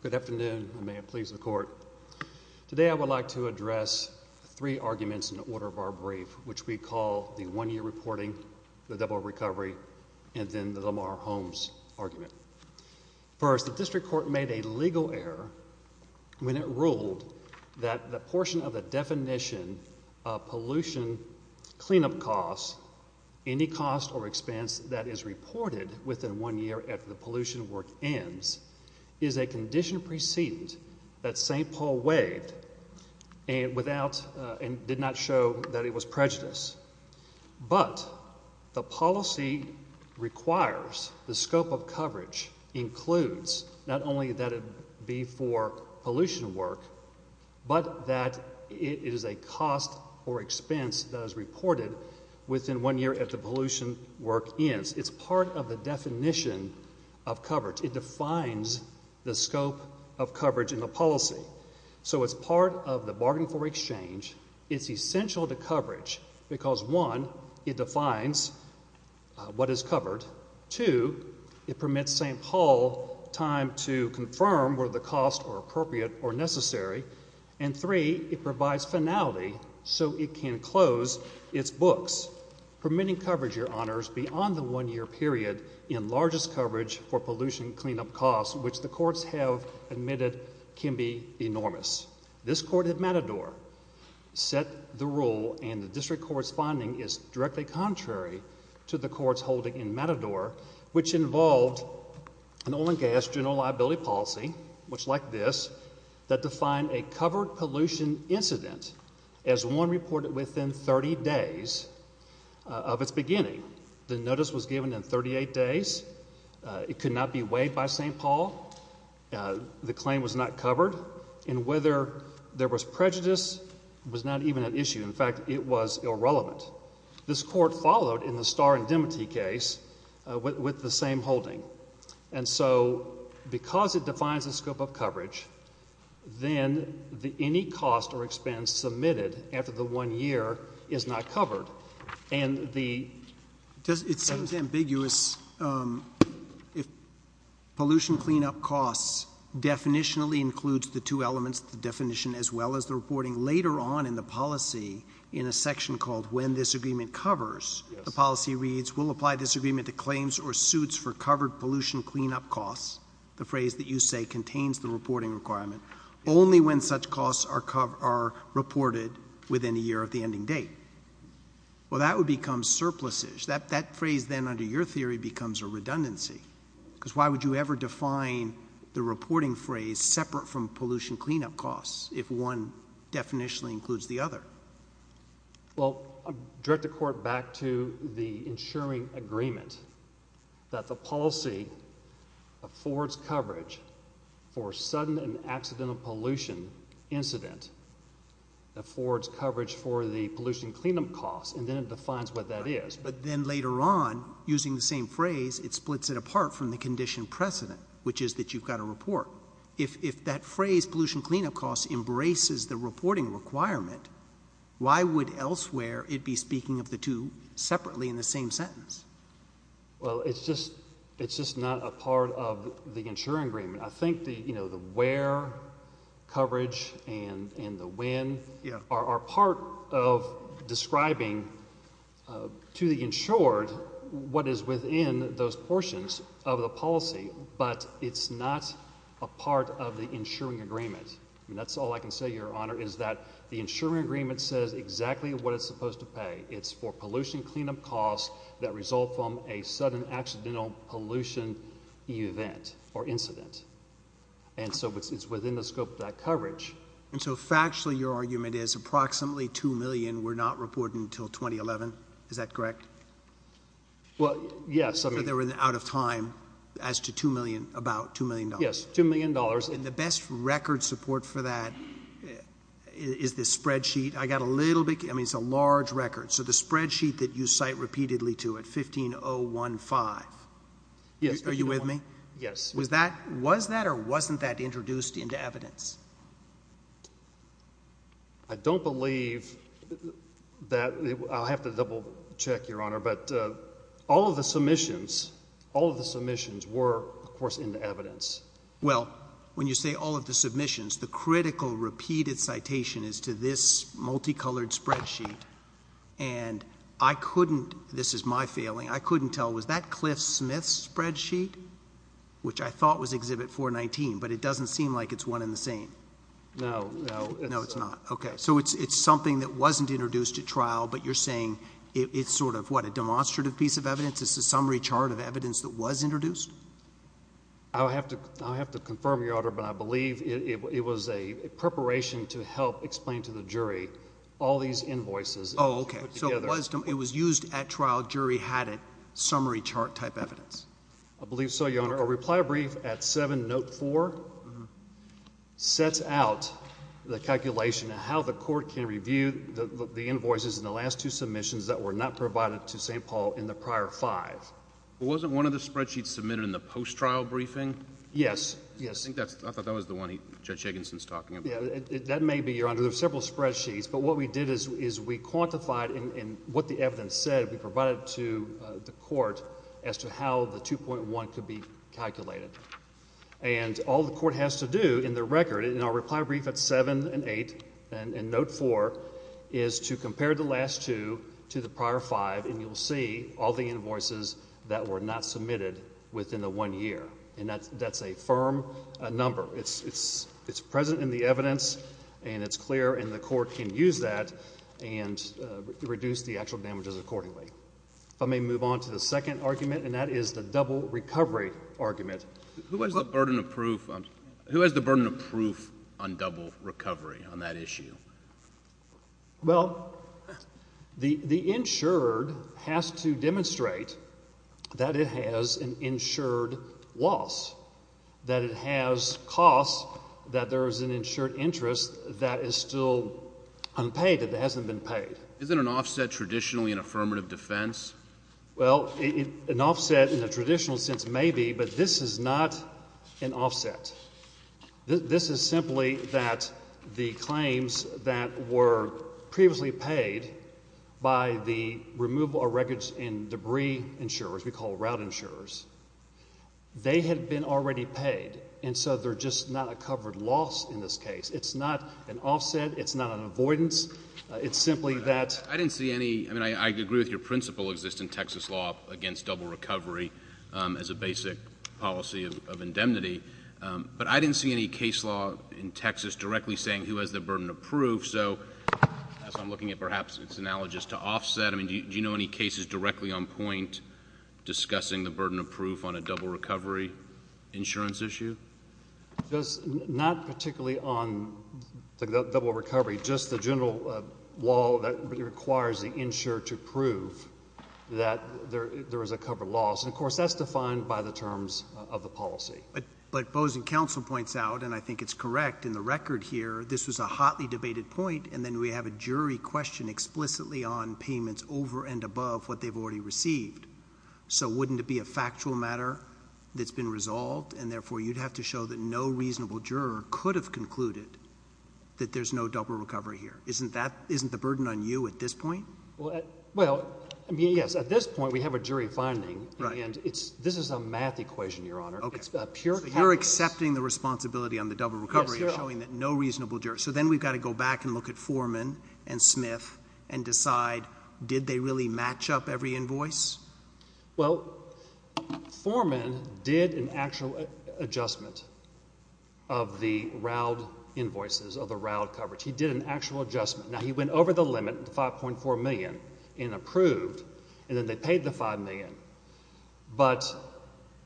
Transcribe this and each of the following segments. Good afternoon, and may it please the Court. Today I would like to address three arguments in the order of our brief, which we call the one-year reporting, the double recovery, and then the Lamar Holmes argument. First, the District Court made a legal error when it ruled that the portion of the definition of pollution cleanup costs, any cost or expense that is reported within one year after the pollution work ends, is a condition precedent that St. Paul waived and did not show that it was prejudice. But the policy requires the scope of coverage includes not only that it be for pollution work, but that it is a cost or expense that is reported within one year after the pollution work ends. It's part of the definition of coverage. It defines the scope of coverage in the policy. So it's part of the bargain for exchange. It's essential to coverage because, one, it defines what is covered. Two, it permits St. Paul time to confirm whether the costs are appropriate or necessary. And three, it provides finality so it can close its books, permitting coverage, Your Honors, beyond the one-year period in largest coverage for pollution cleanup costs, which the courts have admitted can be enormous. This court at Matador set the rule, and the District Court's finding is directly contrary to the court's holding in Matador, which involved an oil and gas general liability policy, which like this, that defined a covered pollution incident as one reported within 30 days of its beginning. The notice was given in 38 days. It could not be waived by St. Paul. The claim was not covered. And whether there was prejudice was not even an issue. In fact, it was irrelevant. This court followed in the Starr and Dematy case with the same holding. And so because it defines the scope of coverage, then any cost or expense submitted after the one year is not covered. And the— It seems ambiguous. If pollution cleanup costs definitionally includes the two elements, the definition as well as the reporting, later on in the policy, in a section called When This Agreement Covers, the policy reads, will apply this agreement to claims or suits for covered pollution cleanup costs, the phrase that you say contains the reporting requirement, only when such costs are reported within a year of the ending date. Well, that would become surpluses. That phrase then, under your theory, becomes a redundancy. Because why would you ever define the reporting phrase separate from pollution cleanup costs if one definitionally includes the other? Well, I direct the court back to the ensuring agreement that the policy affords coverage for sudden and accidental pollution incident, affords coverage for the pollution cleanup costs, and then it defines what that is. But then later on, using the same phrase, it splits it apart from the condition precedent, which is that you've got to report. If that pollution cleanup costs embraces the reporting requirement, why would elsewhere it be speaking of the two separately in the same sentence? Well, it's just not a part of the ensuring agreement. I think the where coverage and the when are part of describing to the insured what is within those portions of the policy, but it's not a part of the ensuring agreement. That's all I can say, Your Honor, is that the ensuring agreement says exactly what it's supposed to pay. It's for pollution cleanup costs that result from a sudden accidental pollution event or incident. And so it's within the scope of that coverage. And so factually, your argument is approximately 2 million were not reported until 2011. Is that correct? Well, yes. I mean, they were out of time as to 2 million, about 2 million. Yes. 2 million dollars. And the best record support for that is the spreadsheet. I got a little bit. I mean, it's a large record. So the spreadsheet that you cite repeatedly to it, 15 0 1 5. Yes. Are you with me? Yes. Was that was that or wasn't that introduced into evidence? I don't believe that I'll have to double check, Your Honor, but all of the submissions, all of the submissions were, of course, in the evidence. Well, when you say all of the submissions, the critical repeated citation is to this multicolored spreadsheet. And I couldn't. This is my failing. I couldn't tell. Was that Cliff Smith's spreadsheet, which I thought was one in the same? No, no, no, it's not. OK, so it's something that wasn't introduced to trial. But you're saying it's sort of what a demonstrative piece of evidence is the summary chart of evidence that was introduced. I'll have to I'll have to confirm, Your Honor, but I believe it was a preparation to help explain to the jury all these invoices. Oh, OK. So it was it was used at trial. Jury had a summary chart type evidence. I believe so, Your Honor. A reply brief at 7 note 4 sets out the calculation of how the court can review the invoices in the last two submissions that were not provided to St. Paul in the prior five. Wasn't one of the spreadsheets submitted in the post-trial briefing? Yes, yes. I think that's I thought that was the one Judge Higginson's talking about. That may be, Your Honor. There are several spreadsheets. But what we did is we quantified in what the evidence said we provided to the court as to how the 2.1 could be calculated. And all the court has to do in the record in our reply brief at 7 and 8 and note 4 is to compare the last two to the prior five. And you'll see all the invoices that were not submitted within the one year. And that's that's a firm number. It's it's it's present in the evidence and it's clear in the court can use that and reduce the actual damages accordingly. If I may move on to second argument, and that is the double recovery argument. Who has the burden of proof? Who has the burden of proof on double recovery on that issue? Well, the the insured has to demonstrate that it has an insured loss, that it has costs, that there is an insured interest that is still unpaid. It hasn't been paid. Isn't an offset traditionally an affirmative defense? Well, an offset in a traditional sense, maybe. But this is not an offset. This is simply that the claims that were previously paid by the removal of records in debris insurers, we call route insurers, they had been already paid. And so they're just not a covered loss. In this case, it's not an offset. It's not an avoidance. It's simply that I didn't see any. I mean, I agree with your principle existing Texas law against double recovery as a basic policy of indemnity. But I didn't see any case law in Texas directly saying who has the burden of proof. So as I'm looking at, perhaps it's analogous to offset. I mean, do you know any cases directly on point discussing the burden of proof on a double recovery insurance issue? Just not particularly on double recovery. Just the general law that requires the insurer to prove that there is a covered loss. And of course, that's defined by the terms of the policy. But Bozeman counsel points out, and I think it's correct in the record here, this was a hotly debated point. And then we have a jury question explicitly on payments over and above what they've already received. So wouldn't it be a factual matter that's been resolved? And therefore, you'd have to show that no reasonable juror could have concluded that there's no double recovery here. Isn't the burden on you at this point? Well, I mean, yes. At this point, we have a jury finding. And this is a math equation, Your Honor. It's a pure calculus. You're accepting the responsibility on the double recovery and showing that no reasonable juror. So then we've got to go back and look at Foreman and Smith and decide, did they really match up every invoice? Well, Foreman did an actual adjustment of the RAUD invoices, of the RAUD coverage. He did an actual adjustment. Now, he went over the limit, the $5.4 million, and approved. And then they paid the $5 million. But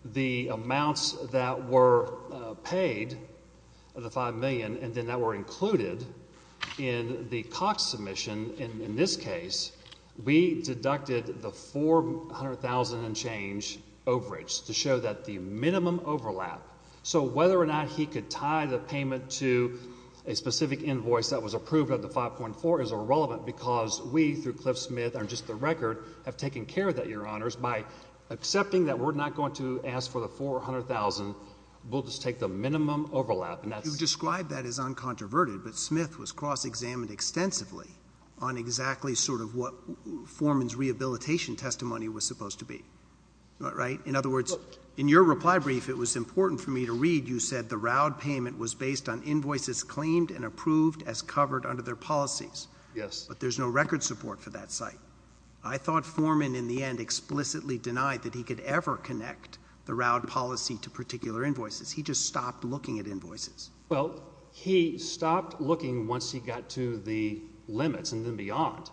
the amounts that were paid, the $5 million, and then that were included in the Cox submission, in this case, we deducted the $400,000 and change overage to show that the minimum overlap. So whether or not he could tie the payment to a specific invoice that was approved under 5.4 is irrelevant because we, through Cliff Smith, are just the record, have taken care of that, Your Honors. By accepting that we're not going to ask for the $400,000, we'll just take the minimum overlap. And that's You've described that as uncontroverted. But Smith was cross-examined extensively on exactly sort of what Foreman's rehabilitation testimony was supposed to be. Right? In other words, in your reply brief, it was important for me to read, you said, the RAUD payment was based on invoices claimed and approved as covered under their policies. Yes. But there's no record support for that site. I thought Foreman, in the end, explicitly denied that he could ever connect the RAUD policy to particular invoices. He just stopped looking at invoices. Well, he stopped looking once he got to the limits and then beyond.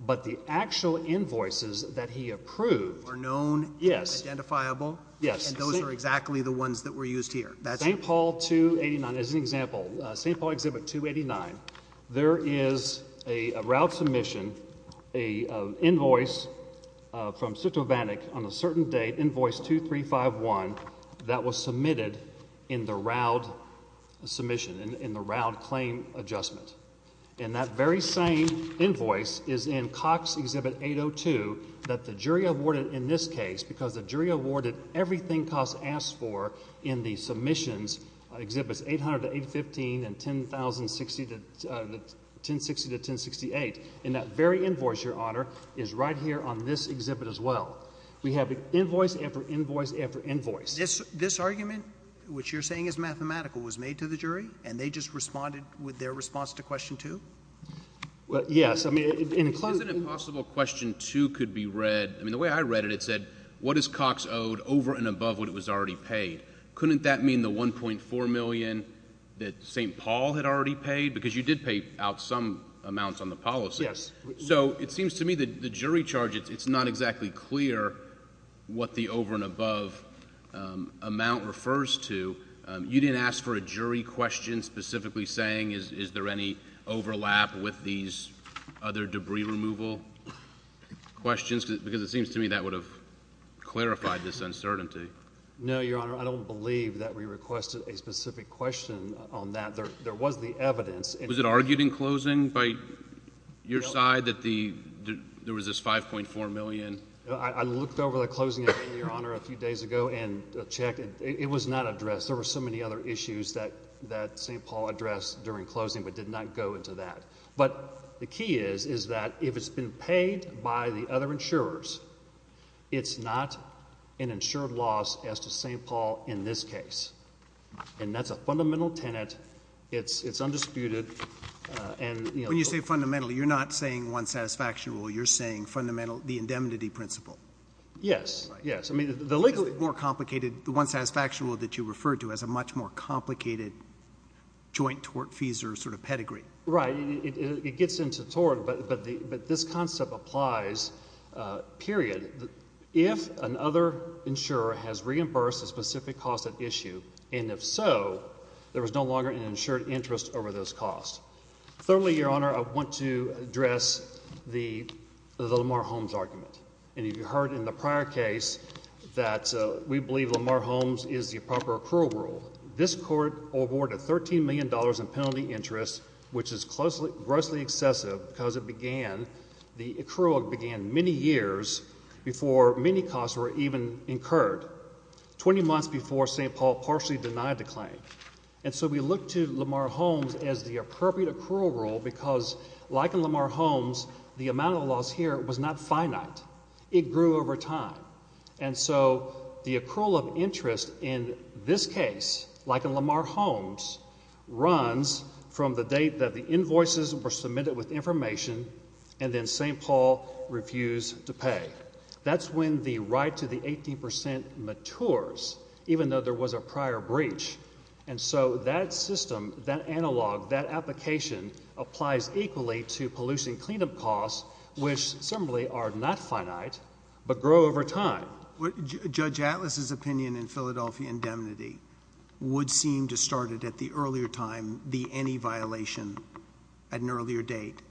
But the actual invoices that he approved are known, identifiable, and those are exactly the ones that were used here. St. Paul 289, as an example, St. Paul Exhibit 289, there is a RAUD submission, an invoice from Citrovanic on a certain date, invoice 2351, that was submitted in the RAUD submission, in the RAUD claim adjustment. And that very same invoice is in Cox Exhibit 802 that the jury awarded in this case, because the jury awarded everything Cox asked for in the submissions, Exhibits 800 to 815 and 1060 to 1068. And that very invoice, Your Honor, is right here on this exhibit as well. We have invoice after invoice after invoice. This argument, which you're saying is mathematical, was made to the jury, and they just responded with their response to Question 2? Yes. I mean, is it possible Question 2 could be read, I mean, the way I read it, it said, what is Cox owed over and above what it was already paid? Couldn't that mean the $1.4 million that St. Paul had already paid? Because you did pay out some amounts on the policy. Yes. So it seems to me that the jury charge, it's not exactly clear what the over and above amount refers to. You didn't ask for a jury question specifically saying is there any overlap with these other debris removal questions? Because it seems to me that would have clarified this uncertainty. No, Your Honor. I don't believe that we requested a specific question on that. There was the evidence. Was it argued in closing by your side that the there was this $5.4 million? I looked over the closing, Your Honor, a few days ago and checked. It was not addressed. There were so many other issues that St. Paul addressed during closing, but did not go into that. But the key is, is that if it's been paid by the other insurers, it's not an insured loss as to St. Paul in this case. And that's a fundamental tenet. It's undisputed. And when you say fundamentally, you're not saying one satisfaction rule. You're saying fundamental, the indemnity principle. Yes. Yes. I mean, the legally more complicated, the one satisfaction rule that you referred to as a much more complicated joint tort, sort of pedigree. Right. It gets into tort. But this concept applies, period. If another insurer has reimbursed a specific cost of issue, and if so, there was no longer an insured interest over those costs. Thirdly, Your Honor, I want to address the Lamar Holmes argument. And you've heard in the prior case that we believe Lamar Holmes is the proper accrual rule. This court awarded $13 million in penalty interest, which is grossly excessive because it began, the accrual began many years before many costs were even incurred, 20 months before St. Paul partially denied the claim. And so we look to Lamar Holmes as the appropriate accrual rule because like in Lamar Holmes, the amount of loss here was not finite. It grew over time. And so the accrual of interest in this case, like in Lamar Holmes, runs from the date that the invoices were submitted with information, and then St. Paul refused to pay. That's when the right to the 18% matures, even though there was a prior breach. And so that system, that analog, that application applies equally to pollution cleanup costs, which similarly are not finite, but grow over time. Judge Atlas's opinion in Philadelphia indemnity would seem to start it at the earlier time, the any violation at an earlier date.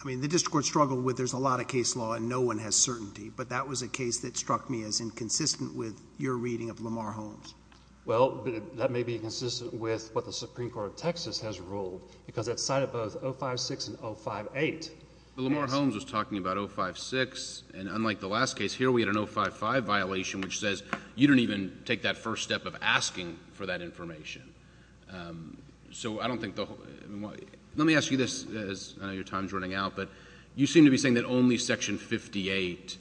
I mean, the district court struggled with there's a lot of case law and no one has certainty, but that was a case that struck me as inconsistent with your reading of Lamar Holmes. Well, that may be consistent with what the Supreme Court of Texas has ruled because that cited both 056 and 058. Lamar Holmes was talking about 056, and unlike the last case here, we had an 055 violation, which says you didn't even take that first step of asking for that information. So I don't think the whole, let me ask you this, as I know your time's running out, but you seem to be saying that only Section 58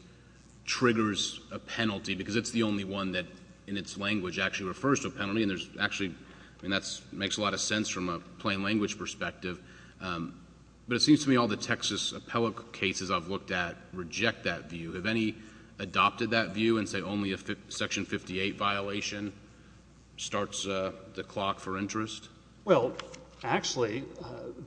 triggers a penalty because it's the only one that in its language actually refers to a penalty, and there's actually, I mean, that makes a lot of sense from a plain language perspective. But it seems to me all the Texas appellate cases I've looked at reject that view. Have any adopted that view and say only a Section 58 violation starts the clock for interest? Well, actually,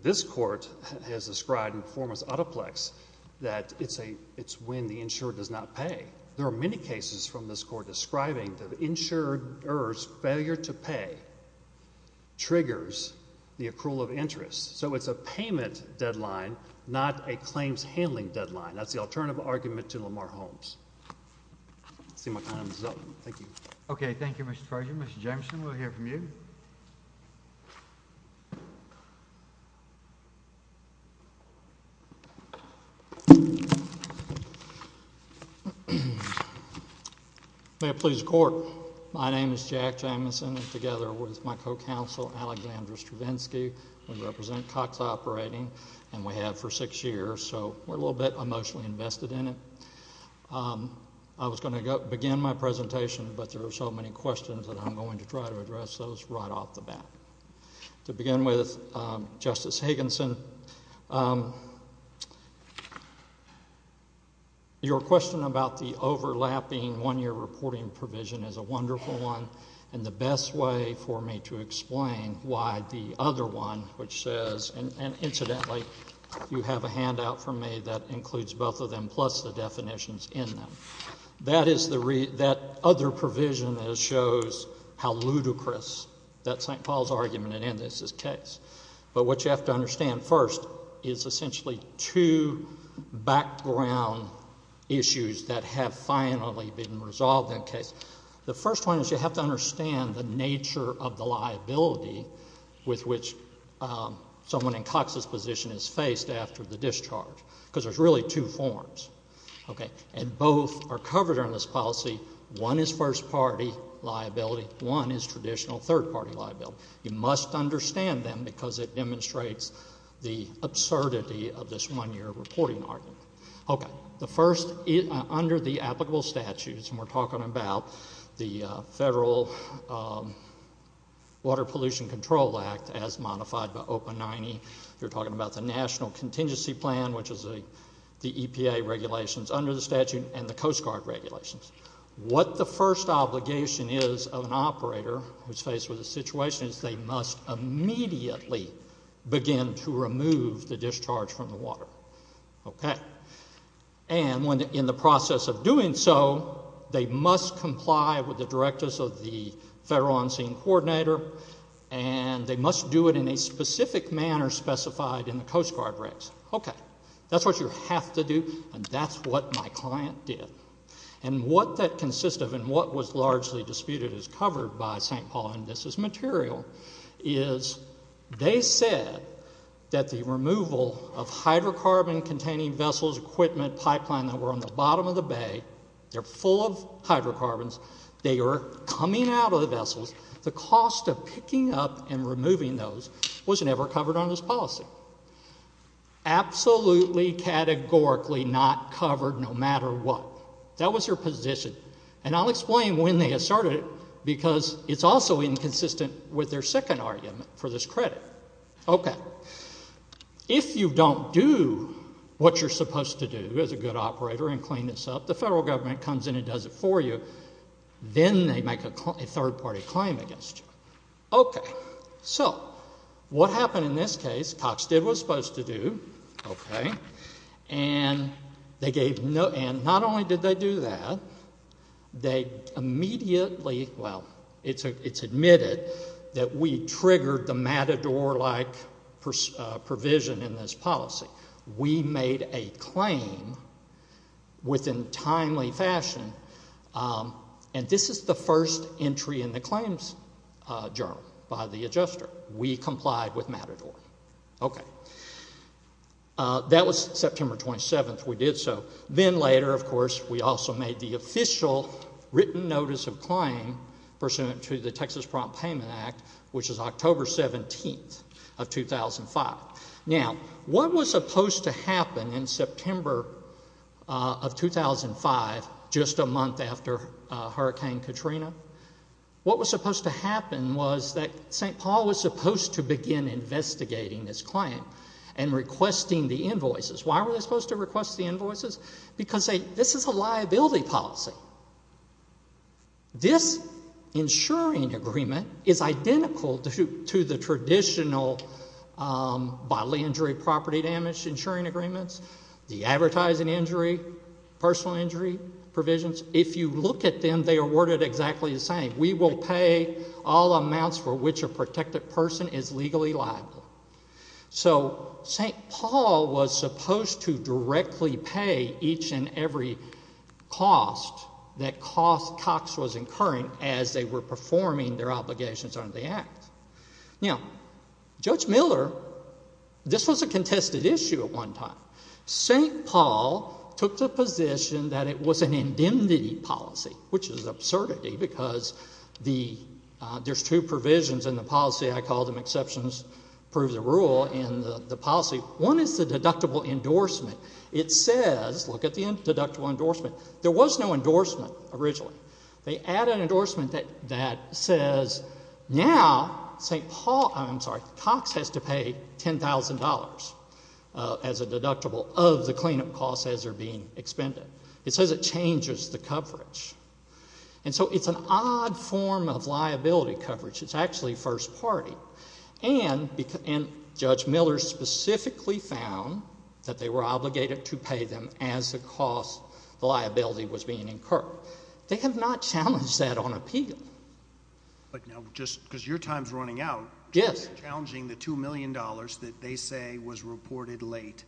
this court has described in performance out of plex that it's when the insurer does not pay. There are many cases from this court describing the insurer's failure to pay triggers the accrual of interest. So it's a payment deadline, not a claims handling deadline. That's the alternative argument to Lamar Holmes. Let's see my time's up. Thank you. Okay. Thank you, Mr. Treasurer. Mr. Jamison, we'll hear from you. May it please the court. My name is Jack Jamison, and together with my co-counsel, Alexandra Stravinsky, we represent Cox Operating, and we have for six years. So we're a little bit emotionally invested in it. I was going to begin my presentation, but there are so many questions that I'm going to try to address those right off the bat. To begin with, Justice Higginson, your question about the overlapping one-year reporting provision is a wonderful one, and the best way for me to explain why the other one, which says, and incidentally, you have a handout from me that includes both of them, plus the definitions in them. That is the other provision that shows how ludicrous that St. Paul's argument is in this case. But what you have to understand first is essentially two background issues that have finally been resolved in the case. The first one is you have to understand the nature of the liability with which someone in Cox's position is faced after the discharge, because there's really two forms. And both are covered in this policy. One is first-party liability. One is traditional third-party liability. You must understand them because it demonstrates the absurdity of this one-year reporting argument. Okay. The first, under the applicable statutes, and we're talking about the Federal Water Pollution Control Act as modified by OPA 90. You're talking about the National Contingency Plan, which is the EPA regulations under the statute, and the Coast Guard regulations. What the first obligation is of an operator who's faced with a situation is they must immediately begin to remove the discharge from the water. Okay. And in the process of doing so, they must comply with the directives of the Federal On-Scene Coordinator, and they must do it in a specific manner specified in the Coast Guard regs. Okay. That's what you have to do, and that's what my client did. And what that consists of and what was largely disputed is covered by St. Paul, and this is material, is they said that the removal of hydrocarbon-containing vessels, equipment, pipeline that were on the bottom of the the cost of picking up and removing those was never covered on this policy. Absolutely, categorically not covered no matter what. That was their position, and I'll explain when they asserted it because it's also inconsistent with their second argument for this credit. Okay. If you don't do what you're supposed to do as a good operator and clean this up, the Federal Government comes in and does it for you, then they make a third-party claim against you. Okay. So what happened in this case, Cox did what he was supposed to do, okay, and they gave no, and not only did they do that, they immediately, well, it's admitted that we triggered the Matador-like provision in this policy. We made a claim within timely fashion, and this is the first entry in the claims journal by the adjuster. We complied with Matador. Okay. That was September 27th. We did so. Then later, of course, we also made the official written notice of claim pursuant to the Texas Prompt Payment Act, which is October 17th of 2005. Now, what was supposed to happen in September of 2005, just a month after Hurricane Katrina, what was supposed to happen was that St. Paul was supposed to begin investigating this claim and requesting the invoices. Why were they supposed to request the invoices? Because this is a liability policy. This insuring agreement is identical to the traditional bodily injury property damage insuring agreements, the advertising injury, personal injury provisions. If you look at them, they are worded exactly the same. We will pay all amounts for which a protected person is legally liable. So St. Paul was supposed to directly pay each and every cost that Cox was incurring as they were performing their obligations under the act. Now, Judge Miller, this was a contested issue at one time. St. Paul took the position that it was an indemnity policy, which is absurdity because there's two provisions in the policy, I call them exceptions, prove the rule in the policy. One is the deductible endorsement. It says, look at the deductible endorsement, there was no endorsement originally. They add an endorsement that says now St. Paul, I'm sorry, Cox has to pay $10,000 as a deductible of the cleanup costs as they're being expended. It says it changes the coverage. And so it's an endorsement in the first party. And Judge Miller specifically found that they were obligated to pay them as the cost, the liability was being incurred. They have not challenged that on appeal. But now, just because your time's running out. Yes. Challenging the $2 million that they say was reported late.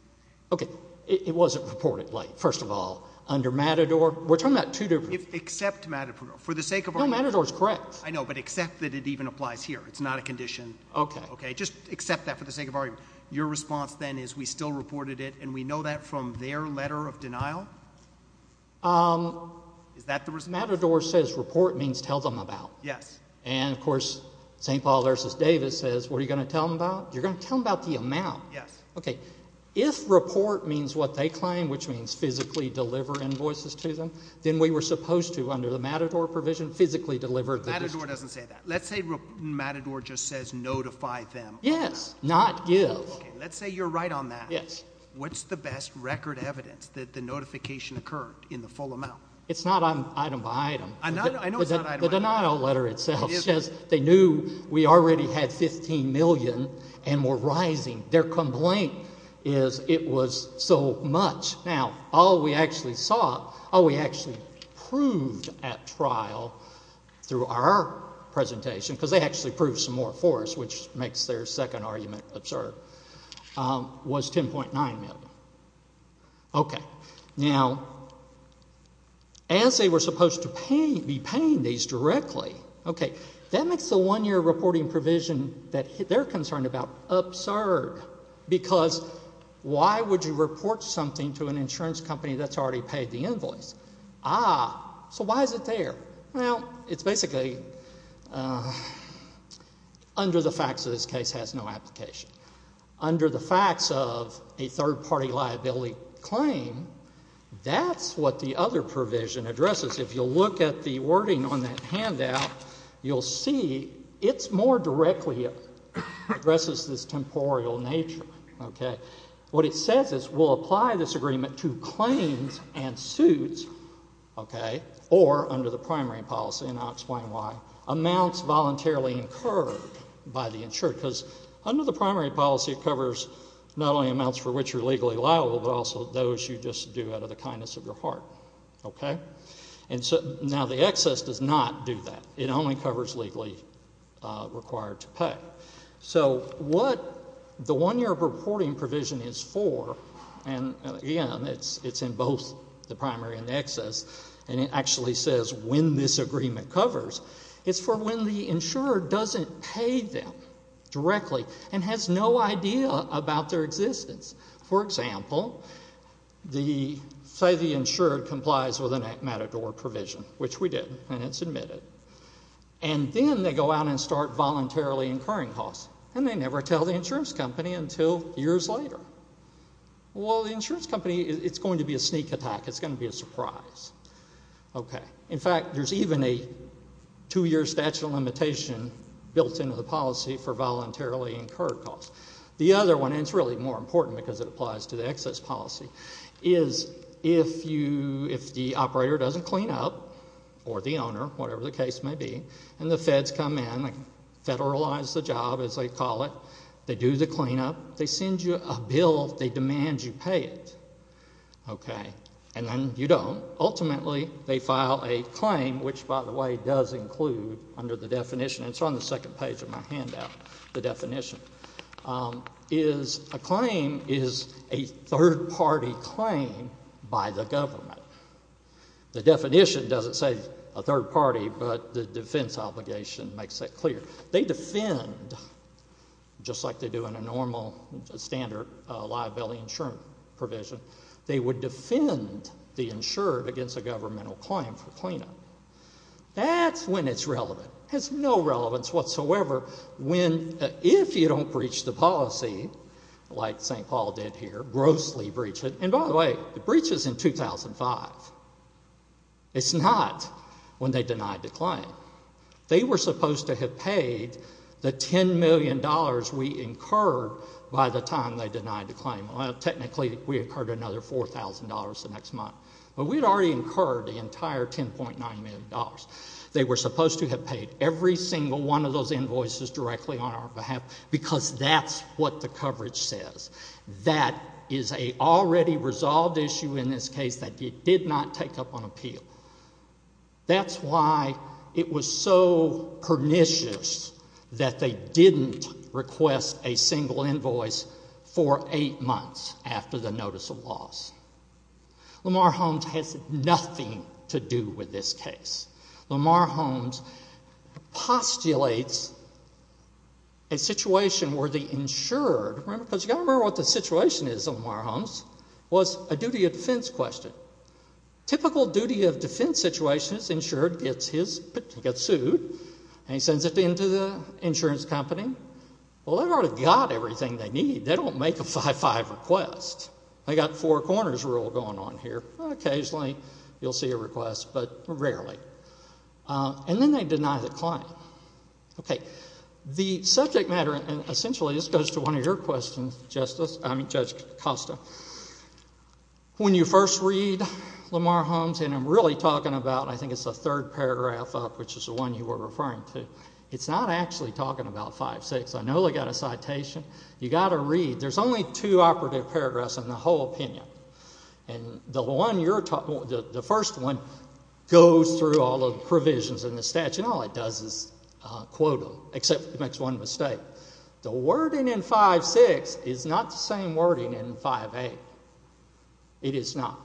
Okay. It wasn't reported late, first of all, under Matador. We're talking about two different. Except Matador. For the sake of argument. No, Matador's correct. I know, except that it even applies here. It's not a condition. Okay. Just accept that for the sake of argument. Your response then is we still reported it and we know that from their letter of denial? Is that the response? Matador says report means tell them about. Yes. And of course, St. Paul versus Davis says, what are you going to tell them about? You're going to tell them about the amount. Yes. Okay. If report means what they claim, which means physically deliver invoices to them, then we were supposed to, under the Matador provision, physically deliver. Matador doesn't say that. Let's say Matador just says notify them. Yes. Not give. Okay. Let's say you're right on that. Yes. What's the best record evidence that the notification occurred in the full amount? It's not item by item. I know it's not item by item. The denial letter itself says they knew we already had $15 million and were rising. Their complaint is it was so much. Now, all we actually saw, all we actually proved at trial through our presentation, because they actually proved some more for us, which makes their second argument absurd, was $10.9 million. Okay. Now, as they were supposed to be paying these directly, okay, that makes the one-year reporting provision that they're concerned about absurd because why would you report something to an insurance company that's already paid the invoice? Ah, so why is it there? Well, it's basically under the facts of this case has no application. Under the facts of a third-party liability claim, that's what the other provision addresses. If you'll look at the wording on that handout, you'll see it's more directly addresses this temporal nature. Okay. What it says is we'll apply this agreement to claims and suits, okay, or under the primary policy, and I'll explain why, amounts voluntarily incurred by the insured, because under the primary policy, it covers not only amounts for which you're legally liable, but also those you just do out of the kindness of your heart. Okay. And so now the excess does not do that. It only covers legally required to pay. So what the one-year reporting provision is for, and again, it's in both the primary and the excess, and it actually says when this agreement covers, it's for when the insurer doesn't pay them directly and has no idea about their existence. For example, say the insured complies with an matador provision, which we did, and it's admitted, and then they go out and start voluntarily incurring costs, and they never tell the insurance company until years later. Well, the insurance company, it's going to be a sneak attack. It's going to be a surprise. Okay. In fact, there's even a two-year statute of limitation built into the policy for voluntarily incurred costs. The other one, and it's really more important because it applies to the excess policy, is if the operator doesn't clean up, or the owner, whatever the case may be, and the feds come in, federalize the job as they call it, they do the cleanup, they send you a bill, they demand you pay it. Okay. And then you don't. Ultimately, they file a claim, which, by the way, does include under the definition, it's on the second page of my handout, the definition, is a claim is a third-party claim by the government. The definition doesn't say a third party, but the defense obligation makes that clear. They defend, just like they do in a normal standard liability insurance provision, they would defend the insured against a governmental claim for cleanup. That's when it's relevant. It has no relevance whatsoever when, if you don't breach the policy, like St. Bruce's in 2005. It's not when they denied the claim. They were supposed to have paid the $10 million we incurred by the time they denied the claim. Well, technically, we incurred another $4,000 the next month. But we had already incurred the entire $10.9 million. They were supposed to have paid every single one of those invoices directly on our behalf because that's what the in this case that they did not take up on appeal. That's why it was so pernicious that they didn't request a single invoice for eight months after the notice of loss. Lamar Holmes has nothing to do with this case. Lamar Holmes postulates a situation where the insured, because you've got to remember what the situation is, Lamar Holmes, was a duty of defense question. Typical duty of defense situation is insured gets sued and he sends it in to the insurance company. Well, they've already got everything they need. They don't make a 5-5 request. They've got four corners rule going on here. Occasionally you'll see a request, but rarely. And then they deny the claim. Okay. The Judge Acosta, when you first read Lamar Holmes, and I'm really talking about, I think it's the third paragraph up, which is the one you were referring to, it's not actually talking about 5-6. I know they've got a citation. You've got to read. There's only two operative paragraphs in the whole opinion. And the one you're talking, the first one goes through all the provisions in the statute, and all it does is quote them, except it makes one mistake. The wording in 5-6 is not the same wording in 5-8. It is not.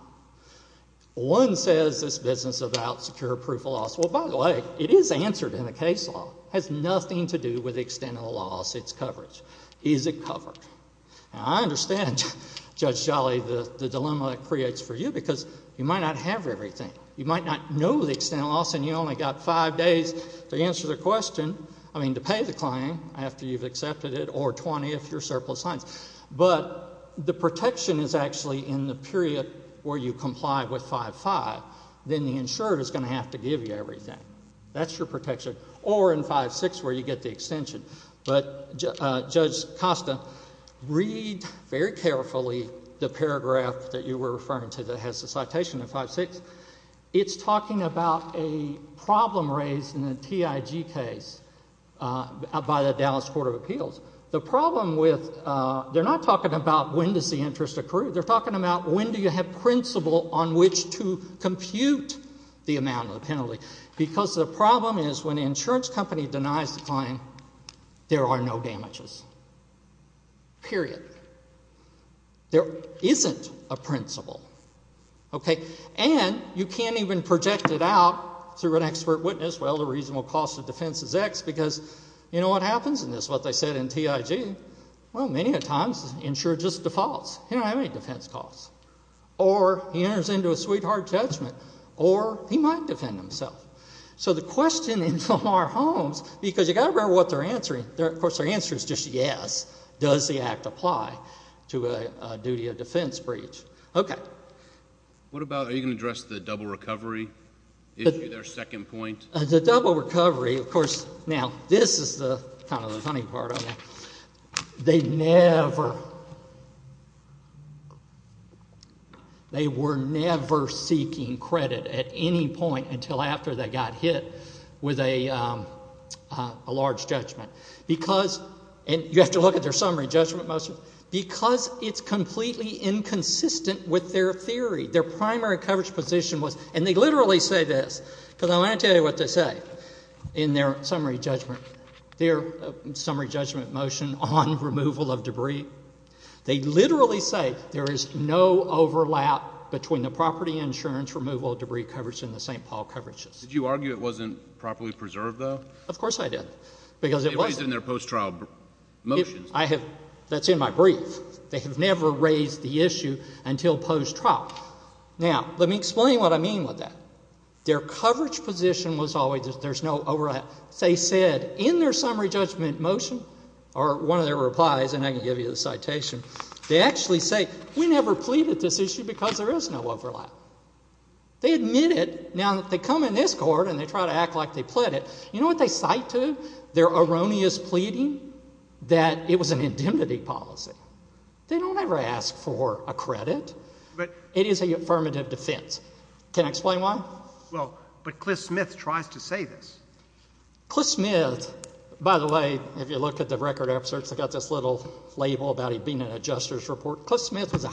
One says this business about secure proof of loss. Well, by the way, it is answered in the case law. It has nothing to do with the extent of the loss, its coverage. Is it covered? Now, I understand, Judge Jolly, the dilemma it creates for you, because you might not have everything. You might not know the extent of the loss, and you've only got five days to answer the question, I mean, to pay the claim after you've accepted it, or 20 if you're surplus funds. But the protection is actually in the period where you comply with 5-5. Then the insurer is going to have to give you everything. That's your protection. Or in 5-6, where you get the extension. But Judge Acosta, read very carefully the paragraph that you were referring to that has the citation in 5-6. It's talking about a problem raised in the TIG case by the Dallas Court of Appeals. The problem with, they're not talking about when does the interest accrue. They're talking about when do you have principle on which to compute the amount of the penalty. Because the problem is when the insurance company denies the claim, there are no damages. Period. There isn't a principle. Okay? And you can't even project it out through an expert witness, well, the reasonable cost of defense is X, because you know what happens in this, what they said in TIG, well, many a times the insurer just defaults. He doesn't have any defense costs. Or he enters into a sweetheart judgment. Or he might defend himself. So the questioning from our homes, because you've got to remember what they're answering. Of course, their answer is just yes. Does the act apply to a duty of defense breach? Okay. What about, are you going to address the double recovery issue, their second point? The double recovery, of course, now this is the kind of the funny part of it. They never, they were never seeking credit at any point until after they got hit with a large judgment. Because, and you have to look at their summary judgment motion, because it's completely inconsistent with their theory. Their primary coverage position was, and they literally say this, because I want to tell you what they say in their summary judgment, their summary judgment motion on removal of debris. They literally say there is no overlap between the property insurance removal of debris coverage and the St. Paul coverages. Did you argue it wasn't properly preserved though? Of course I did. Because it wasn't. It was in their post-trial motions. I have, that's in my brief. They have never raised the issue until post-trial. Now, let me explain what I mean with that. Their coverage position was always that there's no overlap. They said in their summary judgment motion, or one of their replies, and I can give you the citation, they actually say we never pleaded this issue because there is no overlap. They admit it, now that they come in this court and they try to act like they pled it. You know what they cite to? Their erroneous pleading that it was an indemnity policy. They don't ever ask for a credit. It is an affirmative defense. Can I explain why? Well, but Cliff Smith tries to say this. Cliff Smith, by the way, if you look at the record episodes, they've got this little label about him being in a justice report. Cliff Smith was a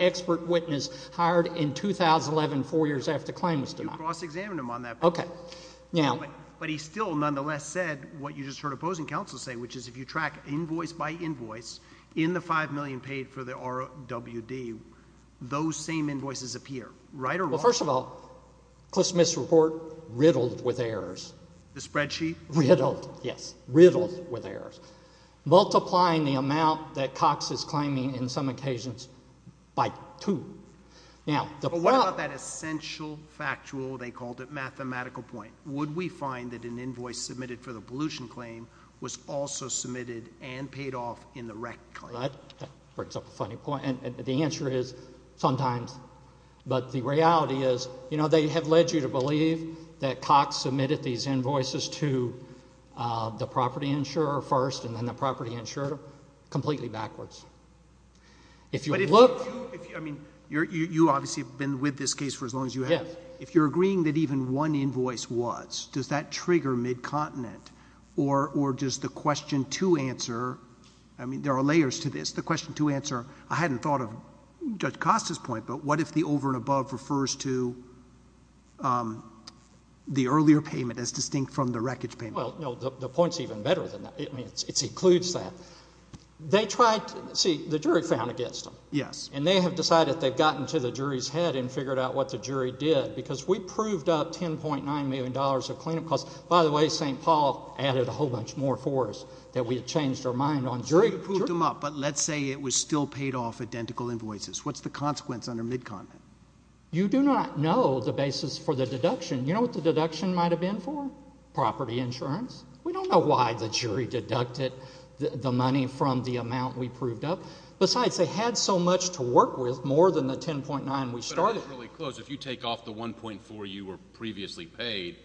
expert witness hired in 2011, four years after the claim was denied. You cross-examined him on that. Okay. But he still, nonetheless, said what you just heard opposing counsel say, which is if you track invoice by invoice, in the $5 million paid for the RWD, those same invoices appear. Right or wrong? Well, first of all, Cliff Smith's report riddled with errors. The spreadsheet? Riddled, yes. Riddled with errors. Multiplying the amount that Cox is claiming, in some occasions, by two. But what about that essential factual, they called it, mathematical point? Would we find that an invoice submitted for the pollution claim was also submitted and paid off in the wreck claim? That brings up a funny point. And the answer is, sometimes. But the reality is, you know, they have led you to believe that Cox submitted these invoices to the property insurer first, and then the property insurer completely backwards. But if you look... I mean, you obviously have been with this case for as long as you have. Yes. If you're agreeing that even one invoice was, does that trigger mid-continent? Or does the question to answer... I mean, there are layers to this. The question to answer, I hadn't thought Judge Costa's point, but what if the over and above refers to the earlier payment as distinct from the wreckage payment? Well, no, the point's even better than that. I mean, it secludes that. They tried... see, the jury found against them. Yes. And they have decided they've gotten to the jury's head and figured out what the jury did. Because we proved up $10.9 million of cleanup costs. By the way, St. Paul added a whole bunch more for us that we had changed our mind on. But let's say it was still paid off identical invoices. What's the consequence under mid-continent? You do not know the basis for the deduction. You know what the deduction might have been for? Property insurance. We don't know why the jury deducted the money from the amount we proved up. Besides, they had so much to work with, more than the $10.9 we started. But I was really close. If you take off the $1.4 you were previously paid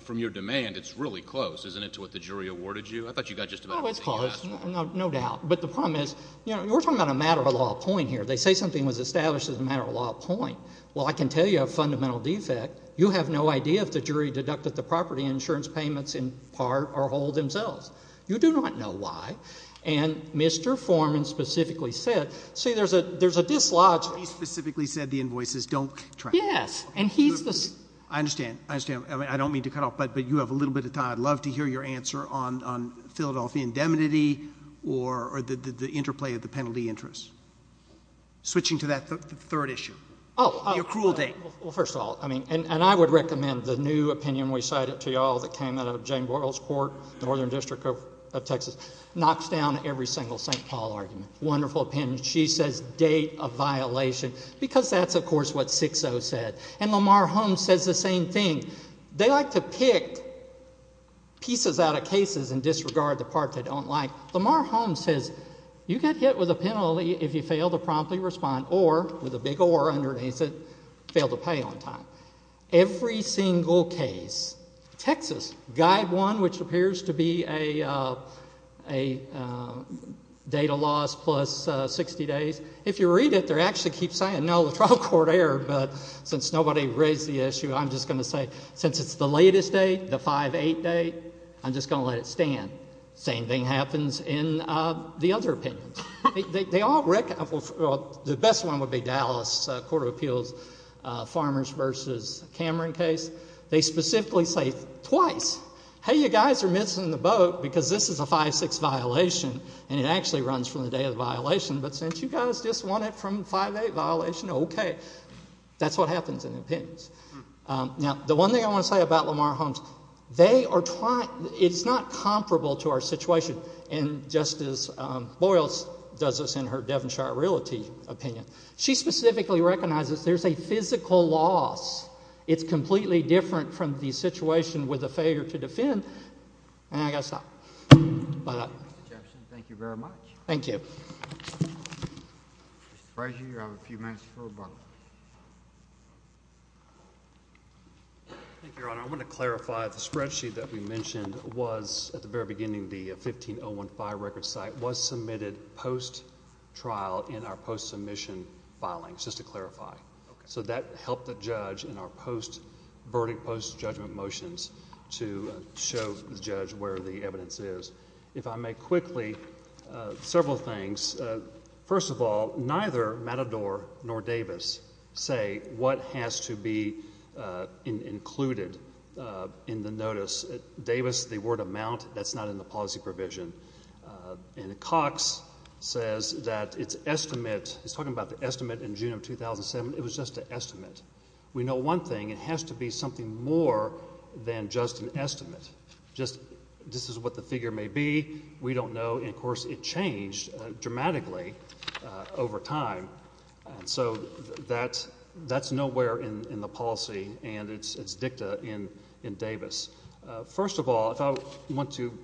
from your demand, it's really close, isn't it, to what the jury awarded you? I thought you got just about everything you asked for. Oh, it's close, no doubt. But the problem is, you know, we're talking about a matter-of-law point here. They say something was established as a matter-of-law point. Well, I can tell you a fundamental defect. You have no idea if the jury deducted the property insurance payments in part or whole themselves. You do not know why. And Mr. Forman specifically said... see, there's a dislodge... He specifically said the invoices don't track. Yes. And he's the... I understand. I understand. I don't mean to cut off, but you have a little bit of time. I'd love to hear your answer on Philadelphia indemnity or the interplay of the penalty interest. Switching to that third issue. Oh. Your cruel date. Well, first of all, and I would recommend the new opinion we cited to you all that came out of Jane Boyle's court, Northern District of Texas, knocks down every single St. Paul argument. Wonderful opinion. She says date of violation because that's, of course, what 6-0 said. And Lamar Holmes says the same thing. They like to pick pieces out of cases and disregard the part they don't like. Lamar Holmes says you get hit with a penalty if you fail to promptly respond or, with a big or underneath it, fail to pay on time. Every single case. Texas. Guide 1, which appears to be a date of loss plus 60 days. If you read it, they actually keep saying, no, the trial court erred, but since nobody raised the issue, I'm just going to say, since it's the latest date, the 5-8 date, I'm just going to let it stand. Same thing happens in the other opinions. The best one would be Dallas Court of Appeals Farmers v. Cameron case. They specifically say twice, hey, you guys are missing the boat because this is a 5-6 violation and it actually runs from the day of the violation, but since you guys just won it from 5-8 violation, okay. That's what happens in the opinions. Now, the one thing I want to say about Lamar Holmes, they are trying, it's not comparable to our situation. And Justice Boyles does this in her Devonshire Realty opinion. She specifically recognizes there's a physical loss. It's completely different from the case. Mr. President, you have a few minutes for rebuttal. Thank you, Your Honor. I want to clarify the spreadsheet that we mentioned was, at the very beginning, the 15015 record site was submitted post-trial in our post-submission filings, just to clarify. So that helped the judge in our post-verdict, post-judgment motions to show the evidence is. If I may quickly, several things. First of all, neither Matador nor Davis say what has to be included in the notice. Davis, the word amount, that's not in the policy provision. And Cox says that it's estimate, he's talking about the estimate in June of 2007, it was just an estimate. We know one thing, it has to be something more than just an estimate. Just, this is what the figure may be. We don't know. And, of course, it changed dramatically over time. And so that's nowhere in the policy and it's dicta in Davis. First of all, if I want to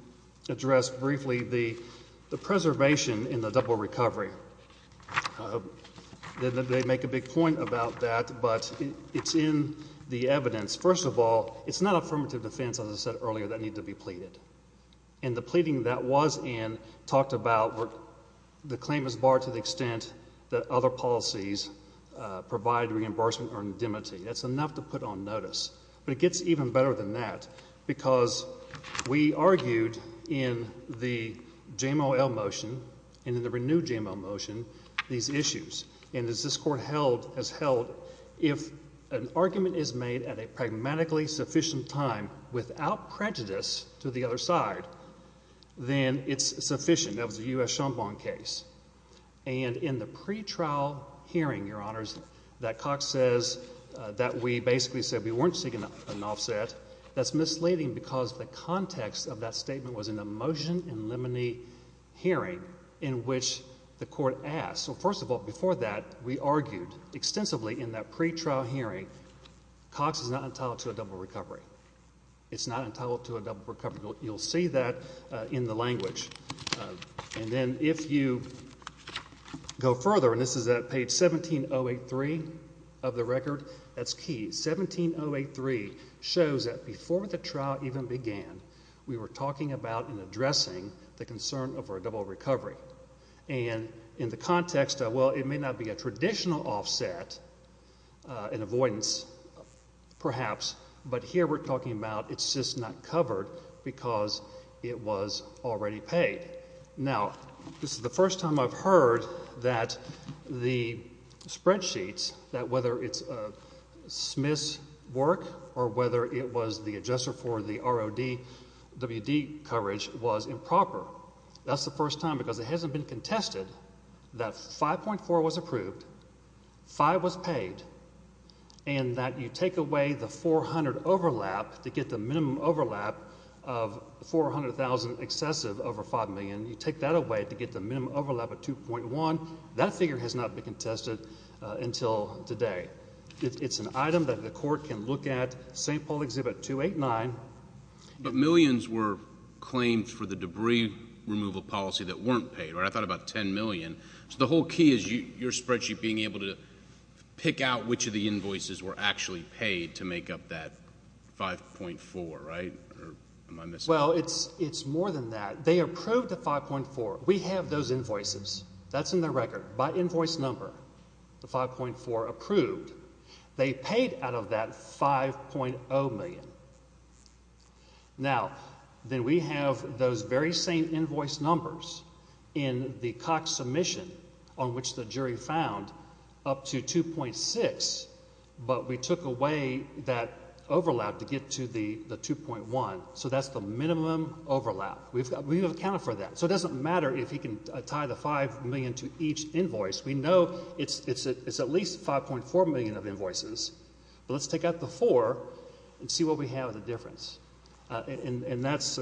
address briefly the preservation in the double recovery. They make a big point about that, but it's in the evidence. First of all, it's not affirmative defense, as I said earlier, that need to be pleaded. And the pleading that was in talked about the claim is barred to the extent that other policies provide reimbursement or indemnity. That's enough to put on notice. But it gets even better than that, because we argued in the JMOL motion and in the renewed JMO motion, these issues. And as this court has held, if an argument is made at a pragmatically sufficient time without prejudice to the other side, then it's sufficient. That was a U.S. Chambon case. And in the pretrial hearing, Your Honors, that Cox says that we basically said we weren't seeking an offset, that's misleading because the context of that statement was in a motion in limine hearing in which the court asked. So, first of all, before that, we argued extensively in that pretrial hearing, Cox is not entitled to a double recovery. It's not entitled to a double recovery. You'll see that in the language. And then if you go further, and this is at page 17083 of the record, that's key. 17083 shows that before the trial even began, we were talking about and addressing the concern over a double recovery. And in the context of, well, it may not be a traditional offset, an avoidance perhaps, but here we're talking about it's just not covered because it was already paid. Now, this is the first time I've heard that the spreadsheets, that whether it's Smith's work or whether it was the adjuster for the ROD, WD coverage was improper. That's the first time because it hasn't been contested that 5.4 was approved, 5 was paid, and that you take away the 400 overlap to get the minimum overlap of 400,000 excessive over 5 million. You take that away to get the minimum overlap of 2.1. That figure has not been contested until today. It's an item that the court can look at. St. Paul Exhibit 289. But millions were claimed for the debris removal policy that weren't paid, I thought about 10 million. So, the whole key is your spreadsheet being able to pick out which of the invoices were actually paid to make up that 5.4, right? Or am I missing something? Well, it's more than that. They approved the 5.4. We have those invoices. That's in the record. By invoice number, the 5.4 approved. They paid out of that 5.0 million. Now, then we have those very same invoice numbers in the Cox submission on which the jury found up to 2.6, but we took away that overlap to get to the 2.1. So, that's the minimum overlap. We've accounted for that. So, it doesn't matter if he can tie the 5 million to each invoice. We know it's at least 5.4 million of invoices, but let's take out the 4 and see what we have of the difference. And that's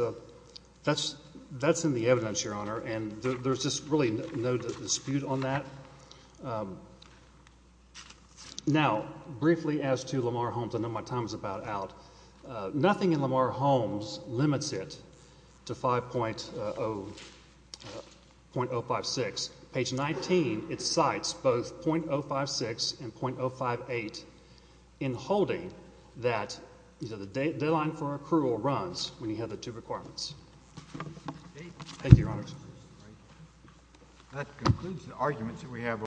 in the evidence, Your Honor, and there's just really no dispute on that. Now, briefly as to Lamar Holmes, I know my time is about out. Nothing in Lamar Holmes limits it to 5.056. Page 19, it cites both .056 and .058 in holding that the deadline for accrual runs when you have the two requirements. Thank you, Your Honor. That concludes the arguments that we have.